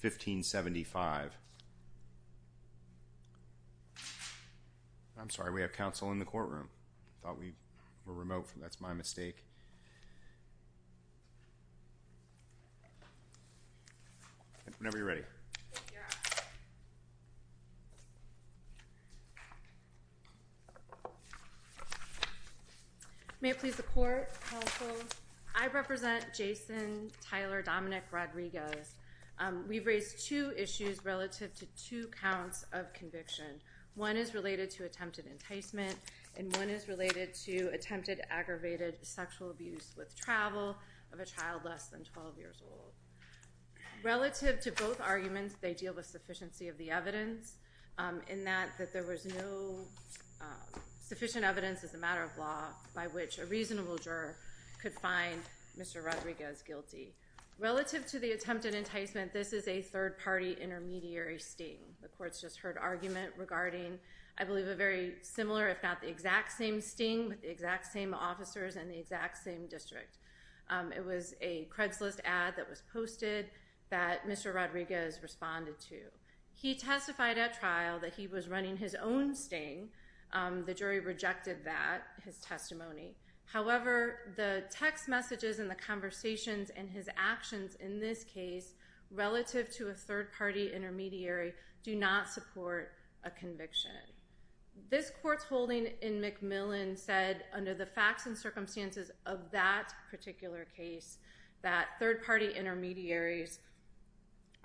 1575. I'm sorry we have counsel in the courtroom. I thought we were remote. That's my mistake. Whenever you're ready. May I please the court counsel. I represent Jason Tyler Dominic Rodriguez. We've raised two issues relative to two counts of conviction. One is related to attempted enticement and one is related to attempted aggravated sexual abuse with travel of a child less than 12 years old. Relative to both arguments, they deal with sufficiency of the evidence in that there was no sufficient evidence as a matter of law by which a reasonable juror could find Mr. Rodriguez guilty. Relative to the attempted enticement, this is a third party intermediary sting. The court's just heard argument regarding I believe a very similar if not the exact same sting with the exact same officers in the exact same district. It was a Craigslist ad that was posted that Mr. Rodriguez responded to. He testified at trial that he was running his own sting. The jury rejected that, his testimony. However, the text messages and the conversations and his actions in this case relative to a third party intermediary do not support a conviction. This court's holding in McMillan said under the facts and circumstances of that particular case that third party intermediaries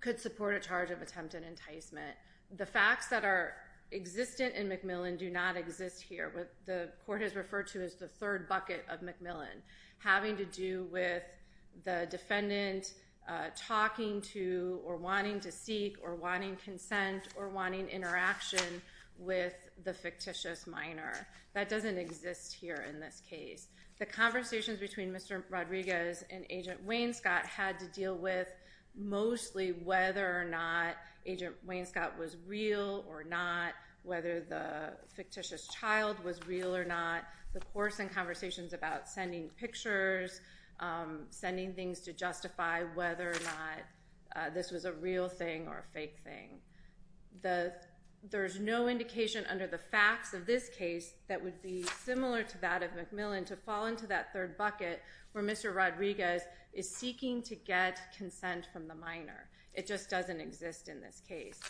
could support a charge of attempted enticement. The facts that are existent in McMillan do not exist here. The court has referred to as the third bucket of McMillan having to do with the defendant talking to or wanting to seek or wanting consent or wanting interaction with the fictitious minor. That doesn't exist here in this case. The conversations between Mr. Rodriguez and Agent Waynescott had to deal with mostly whether or not Agent Waynescott was real or not, whether the fictitious child was real or not, the course and conversations about sending pictures, sending things to justify whether or not this was a real thing or a fake thing. There's no indication under the facts of this case that would be similar to that of McMillan to fall into that third bucket where Mr. Rodriguez is seeking to get consent from the minor. It just doesn't exist in this case.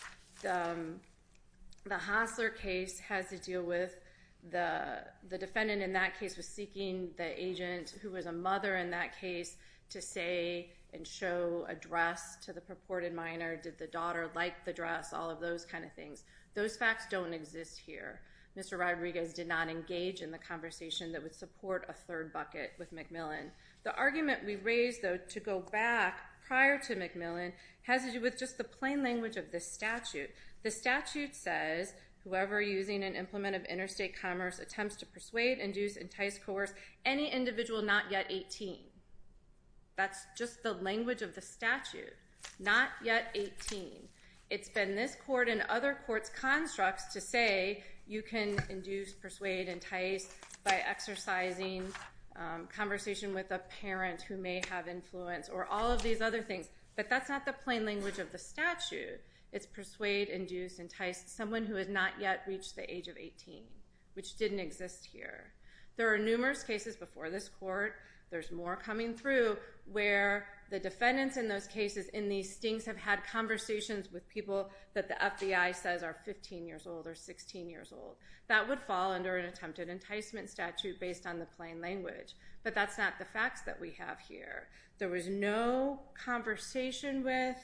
The Hassler case has to deal with the defendant in that case was seeking the agent who was a mother in that case to say and show a dress to the purported minor. Did the daughter like the dress? All of those kind of things. Those facts don't exist here. Mr. Rodriguez did not engage in the conversation that would support a third bucket with McMillan. The argument we raised though to go back prior to McMillan has to do with just the plain language of this statute. The statute says whoever using an implement of interstate commerce attempts to persuade, induce, entice, coerce any individual not yet 18. That's just the language of the statute. Not yet 18. It's been this court and other courts' constructs to say you can induce, persuade, entice by exercising conversation with a parent who may have influence or all of these other things. But that's not the plain language of the statute. It's persuade, induce, entice someone who has not yet reached the age of 18, which didn't exist here. There are numerous cases before this court, there's more coming through, where the defendants in those cases in these stinks have had conversations with people that the FBI says are 15 years old or 16 years old. That would fall under an attempted enticement statute based on the plain language. But that's not the facts that we have here. There was no conversation with...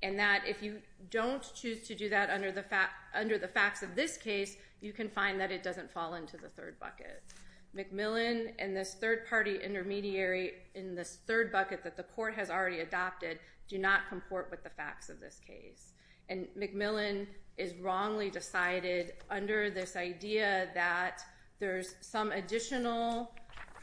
And that if you don't choose to do that under the facts of this case, you can find that it doesn't fall into the third bucket. McMillan and this third party intermediary in this third bucket that the court has already adopted do not comport with the facts of this case. And McMillan is wrongly decided under this idea that there's some additional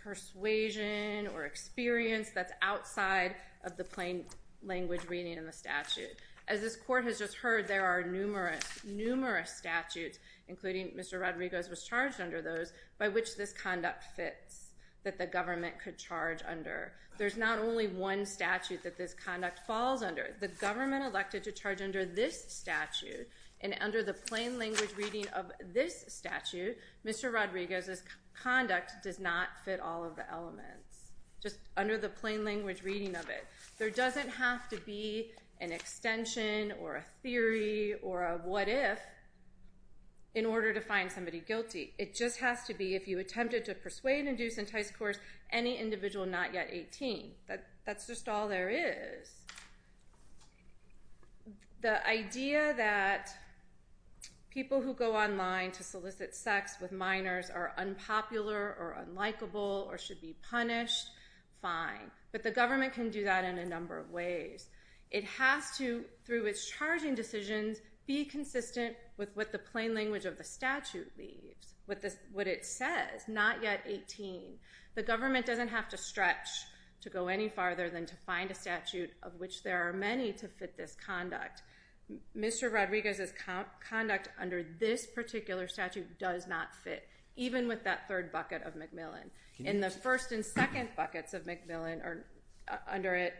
persuasion or experience that's outside of the plain language reading in the statute. As this court has just heard, there are numerous, numerous statutes, including Mr. Rodrigo's was charged under those, by which this conduct fits, that the government could charge under. There's not only one statute that this conduct falls under. The government elected to charge under this statute, and under the plain language reading of this statute, Mr. Rodrigo's conduct does not fit all of the elements, just under the plain language reading of it. There doesn't have to be an extension or a theory or a what if in order to find somebody guilty. It just has to be if you attempted to persuade, induce, entice, coerce any individual not yet 18. That's just all there is. The idea that people who go online to solicit sex with minors are unpopular or unlikable or should be punished, fine. But the government can do that in a number of ways. It has to, through its charging decisions, be consistent with what the plain language of the statute leaves, what it says, not yet 18. The government doesn't have to stretch to go any farther than to find a statute of which there are many to fit this conduct. Mr. Rodrigo's conduct under this particular statute does not fit, even with that third bucket of Macmillan. In the first and second buckets of Macmillan, under it,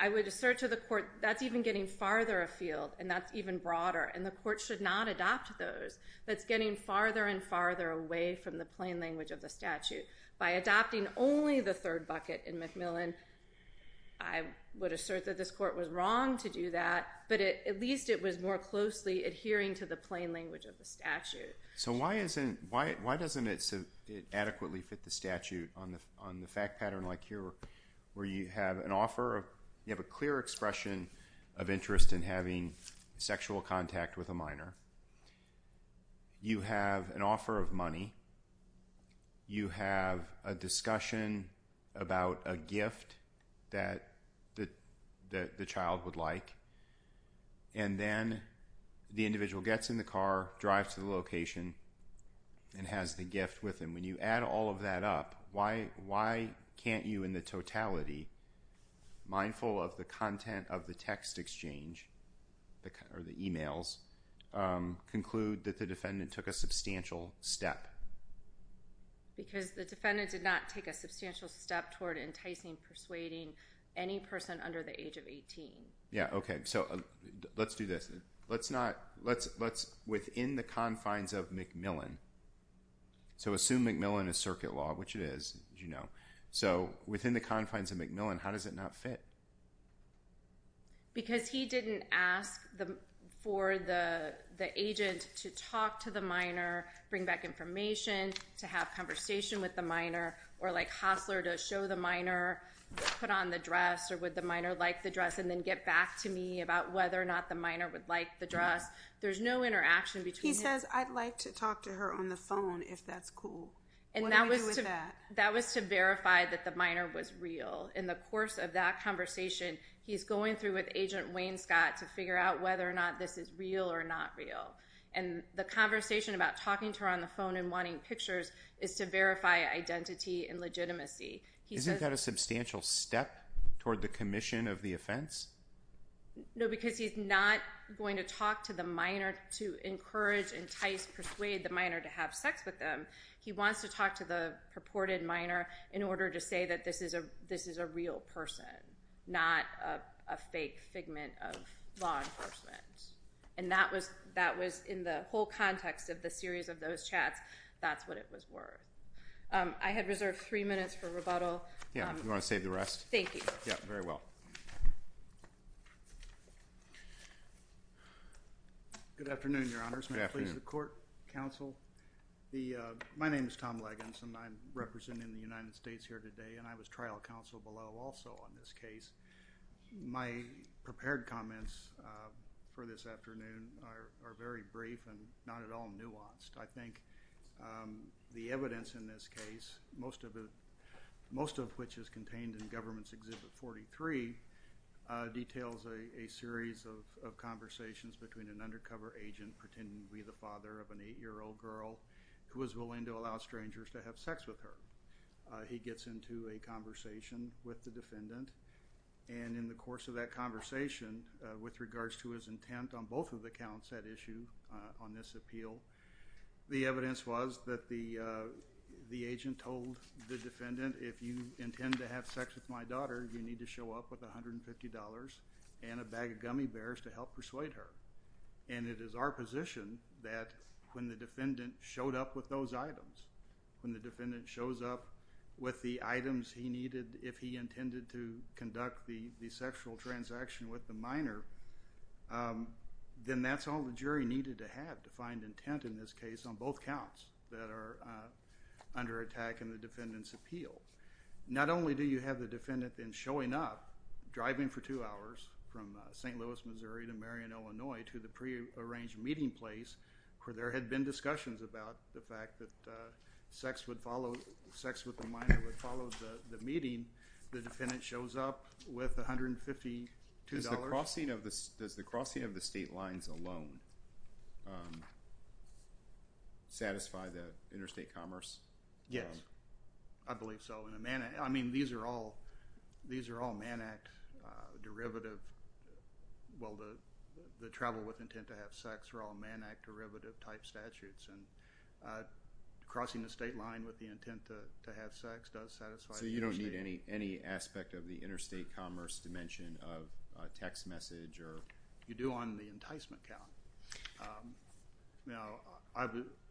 I would assert to the court, that's even getting farther afield, and that's even broader. And the court should not adopt those. That's getting farther and farther away from the plain language of the statute. By adopting only the third bucket in Macmillan, I would assert that this court was wrong to do that, but at least it was more closely adhering to the plain language of the statute. So why doesn't it adequately fit the statute on the fact pattern like here, where you have an offer of, you have a clear expression of interest in having sexual contact with a minor. You have an offer of money. You have a discussion about a gift that the child would like. And then the individual gets in the car, drives to the location, and has the gift with them. When you add all of that up, why can't you in the totality, mindful of the content of the text exchange, or the e-mails, conclude that the defendant took a substantial step? Because the defendant did not take a substantial step toward enticing, persuading any person under the age of 18. Yeah, okay. So let's do this. Within the confines of Macmillan, so assume Macmillan is circuit law, which it is, as you know. So within the confines of Macmillan, how does it not fit? Because he didn't ask for the agent to talk to the minor, bring back information, to have conversation with the minor, or like Hassler, to show the minor, put on the dress, or would the minor like the dress, and then get back to me about whether or not the minor would like the dress. There's no interaction between them. He says, I'd like to talk to her on the phone, if that's cool. What do we do with that? That was to verify that the minor was real. In the course of that conversation, he's going through with Agent Wayne Scott to figure out whether or not this is real or not real. And the conversation about talking to her on the phone and wanting pictures is to verify identity and legitimacy. Isn't that a substantial step toward the commission of the offense? No, because he's not going to talk to the minor to encourage, entice, persuade the minor to have sex with them. He wants to talk to the purported minor in order to say that this is a real person, not a fake figment of law enforcement. And that was in the whole context of the series of those chats, that's what it was worth. I had reserved three minutes for rebuttal. Yeah, you want to save the rest? Thank you. Yeah, very well. Good afternoon, Your Honors. Good afternoon. May I please have the court counsel? My name is Tom Leggans and I'm representing the United States here today and I was trial counsel below also on this case. My prepared comments for this afternoon are very brief and not at all nuanced. I think the evidence in this case really details a series of conversations between an undercover agent pretending to be the father of an eight-year-old girl who was willing to allow strangers to have sex with her. He gets into a conversation with the defendant and in the course of that conversation with regards to his intent on both of the counts at issue on this appeal, the evidence was that the agent told the defendant if you intend to have sex with my daughter, you need to show up with $150 and a bag of gummy bears to help persuade her. And it is our position that when the defendant showed up with those items, when the defendant shows up with the items he needed if he intended to conduct the sexual transaction with the minor, then that's all the jury needed to have to find intent in this case on both counts that are under attack in the defendant's appeal. Not only do you have the defendant then showing up driving for two hours from St. Louis, Missouri to Marion, Illinois to the prearranged meeting place where there had been discussions about the fact that sex with the minor would follow the meeting, the defendant shows up with $152. Does the crossing of the state lines alone satisfy the interstate commerce? Yes, I believe so. I mean these are all Man Act derivative, well the travel with intent to have sex are all Man Act derivative type statutes and crossing the state line with the intent to have sex does satisfy the interstate commerce. So you don't need any aspect of the interstate commerce dimension of text message or? You do on the enticement count.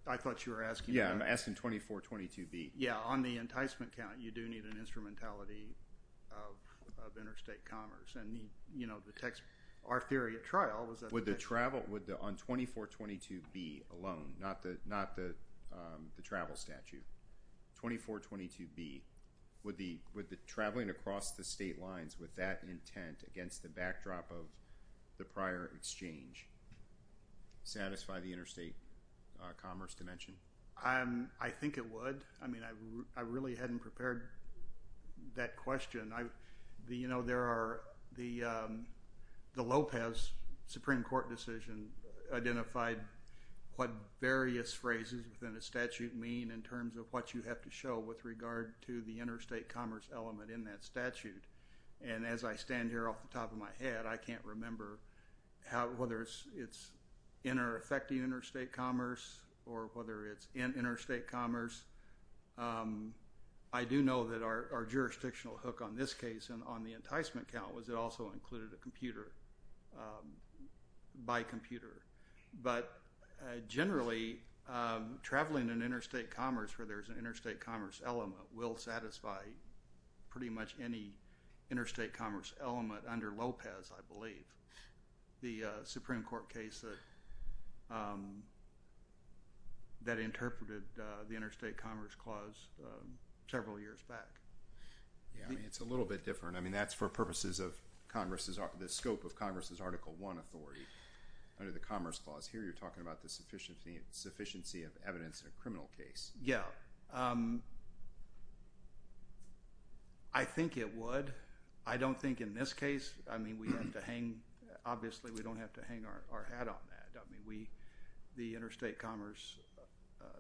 I thought you were asking. Yeah, I'm asking 2422B. Yeah, on the enticement count you do need an instrumentality of interstate commerce and you know the text, our theory at trial was that. Would the travel, on 2422B alone, not the travel statute, 2422B, would the traveling across the state lines with that intent against the backdrop of the prior exchange satisfy the interstate commerce dimension? I think it would. I mean I really hadn't prepared that question. You know there are, the Lopez Supreme Court decision identified what various phrases within a statute mean in terms of what you have to show with regard to the interstate commerce element in that statute and as I stand here off the top of my head, I can't remember whether it's in or affecting interstate commerce or whether it's in interstate commerce. I do know that our jurisdictional hook on this case and on the enticement count was it also included a computer, by computer. But generally traveling in interstate commerce where there's an interstate commerce element will satisfy pretty much any interstate commerce element under Lopez, I believe. The Supreme Court case that interpreted the interstate commerce clause several years back. Yeah, I mean it's a little bit different. I mean that's for purposes of Congress's, the scope of Congress's Article I authority under the commerce clause. Here you're talking about the sufficiency of evidence in a criminal case. Yeah, I think it would. I don't think in this case, I mean we have to hang, obviously we don't have to hang our hat on that. I mean we, the interstate commerce,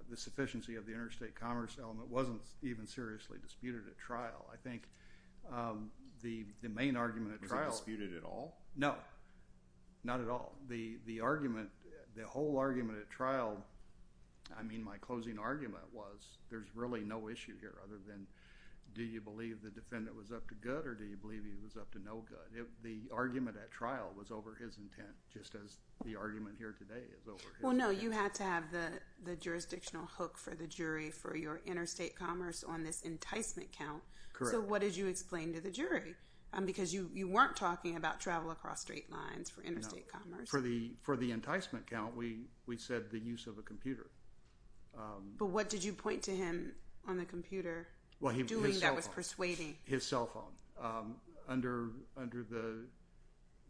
the sufficiency of the interstate commerce element wasn't even seriously disputed at trial. I think the main argument at trial. Was it disputed at all? No, not at all. The argument, the whole argument at trial, I mean my closing argument was there's really no issue here other than do you believe the defendant was up to good or do you believe he was up to no good. The argument at trial was over his intent just as the argument here today is over his intent. Well no, you had to have the jurisdictional hook for the jury for your interstate commerce on this enticement count. Correct. So what did you explain to the jury? Because you weren't talking about travel across straight lines for interstate commerce. For the enticement count, we said the use of a computer. But what did you point to him on the computer doing that was persuading? His cell phone. Under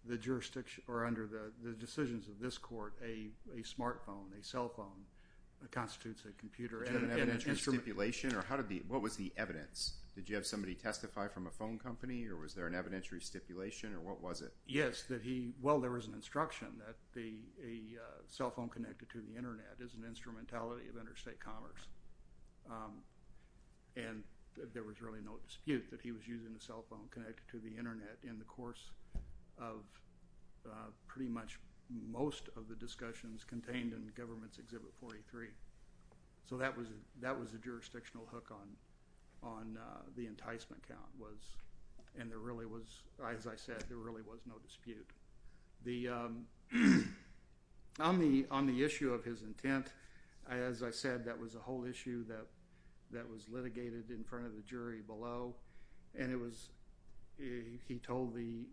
the jurisdiction, or under the decisions of this court, a smart phone, a cell phone constitutes a computer and an instrument. Was there a stipulation or what was the evidence? Did you have somebody testify from a phone company or was there an evidentiary stipulation or what was it? Yes, that he, well there was an instruction that a cell phone connected to the internet is an instrumentality of interstate commerce. And there was really no dispute that he was using a cell phone connected to the internet in the course of pretty much most of the discussions contained in Government's Exhibit 43. So that was a jurisdictional hook on the enticement count was, and there really was, as I said, there really was no dispute. On the issue of his intent, as I said, that was a whole issue that was litigated in front of the jury below and it was, he told the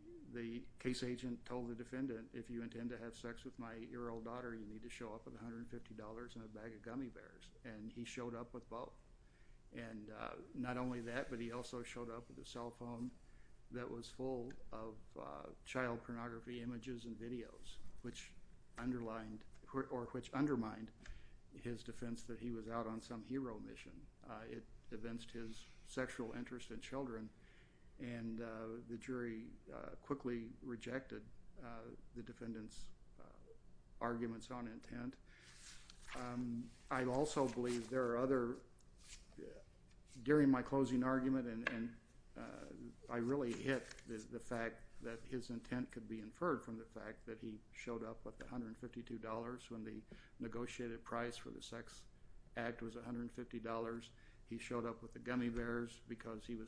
case agent, told the defendant, if you intend to have sex with my 8-year-old daughter, you need to show up with $150 and a bag of gummy bears. And he showed up with both. And not only that, but he also showed up with a cell phone that was full of child pornography images and videos, which underlined, or which undermined his defense that he was out on some hero mission. It evinced his sexual interest in children. And the jury quickly rejected the defendant's arguments on intent. I also believe there are other, during my closing argument, and I really hit the fact that his intent could be inferred from the fact that he showed up with $152 when the defendant was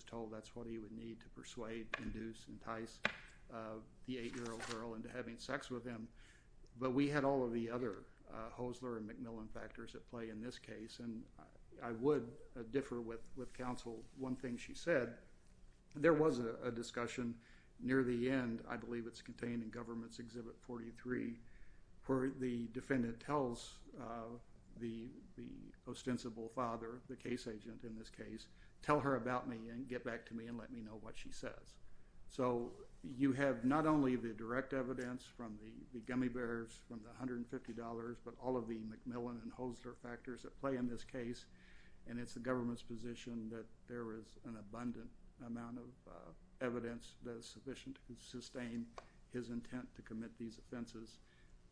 told that's what he would need to persuade, induce, entice the 8-year-old girl into having sex with him. But we had all of the other Hosler and McMillan factors at play in this case and I would differ with counsel. One thing she said, there was a discussion near the end, I believe it's contained in Government's Exhibit 43, where the defendant tells the ostensible father, the case agent in this case, tell her about me and get back to me and let me know what she says. So you have not only the direct evidence from the gummy bears, from the $150, but all of the McMillan and Hosler factors at play in this case and it's the government's position that there is an abundant amount of evidence that is sufficient to sustain his intent to commit these offenses.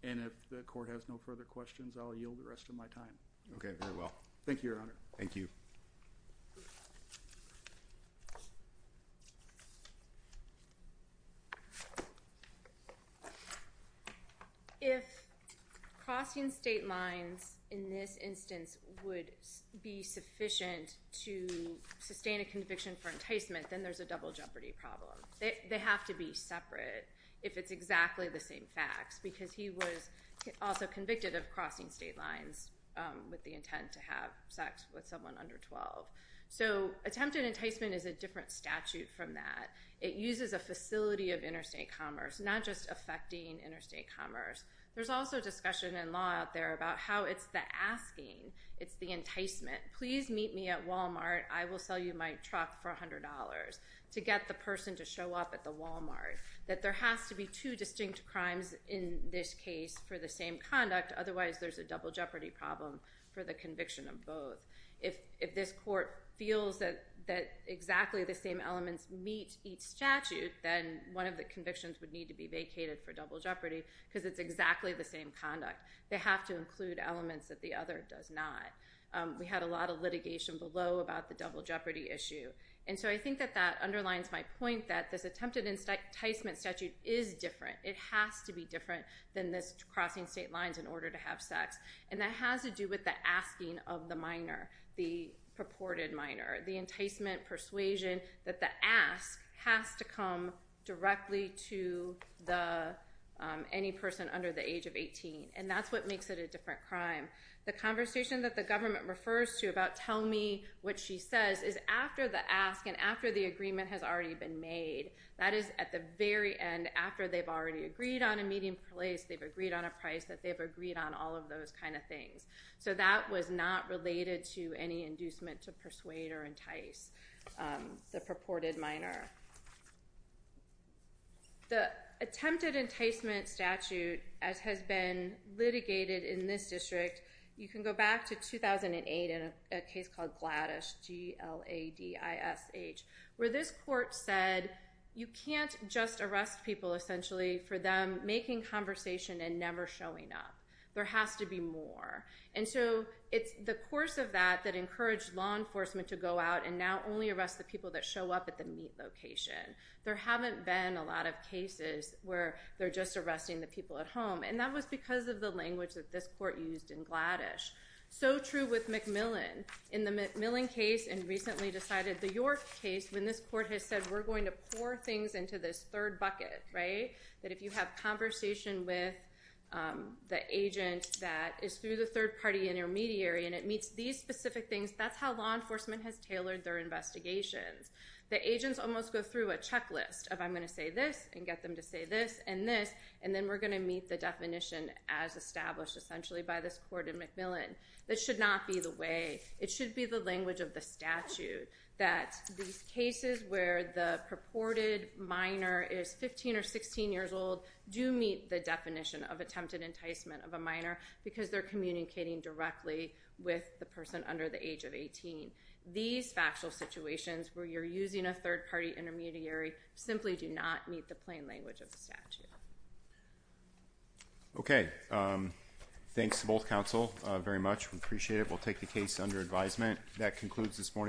And if the court has no further questions, I'll yield the rest of my time. Okay, very well. Thank you, Your Honor. Thank you. If crossing state lines in this instance would be sufficient to sustain a conviction for enticement, then there's a double jeopardy problem. They have to be separate if it's also convicted of crossing state lines with the intent to have sex with someone under 12. So attempted enticement is a different statute from that. It uses a facility of interstate commerce, not just affecting interstate commerce. There's also discussion in law out there about how it's the asking, it's the enticement. Please meet me at Walmart, I will sell you my truck for $100 to get the person to show up at the Walmart. That there has to be two conduct, otherwise there's a double jeopardy problem for the conviction of both. If this court feels that exactly the same elements meet each statute, then one of the convictions would need to be vacated for double jeopardy because it's exactly the same conduct. They have to include elements that the other does not. We had a lot of litigation below about the double jeopardy issue. And so I think that that underlines my point that this attempted enticement statute is different. It has to be different than this crossing state lines in order to have sex. And that has to do with the asking of the minor, the purported minor. The enticement persuasion that the ask has to come directly to any person under the age of 18. And that's what makes it a different crime. The conversation that the government refers to about, tell me what she says, is after the ask and after the agreement has already been made. That is at the very end, after they've already agreed on a meeting place, they've agreed on a price, that they've agreed on all of those kind of things. So that was not related to any inducement to persuade or entice the purported minor. The attempted enticement statute, as has been litigated in this district, you can go back to 2008 in a case called Gladish, G-L-A-D-I-S-H, where this court said you can't just arrest people essentially for them making conversation and never showing up. There has to be more. And so it's the course of that that encouraged law enforcement to go out and now only arrest the people that show up at the meet location. There haven't been a lot of cases where they're just arresting the people at home. And that was because of the language that this court used in Gladish. So true with McMillan. In the McMillan case, and recently decided the York case, when this court has said, we're going to pour things into this third bucket, right, that if you have conversation with the agent that is through the third party intermediary and it meets these specific things, that's how law enforcement has tailored their investigations. The agents almost go through a checklist of, I'm going to say this and get them to say this and this, and then we're going to meet the definition as established essentially by this court in McMillan. That should not be the way. It should be the language of the statute that these cases where the purported minor is 15 or 16 years old do meet the definition of attempted enticement of a minor because they're communicating directly with the person under the age of 18. These factual situations where you're using a third language of the statute. Okay. Thanks to both counsel very much. We appreciate it. We'll take the case under advisement. That concludes this morning's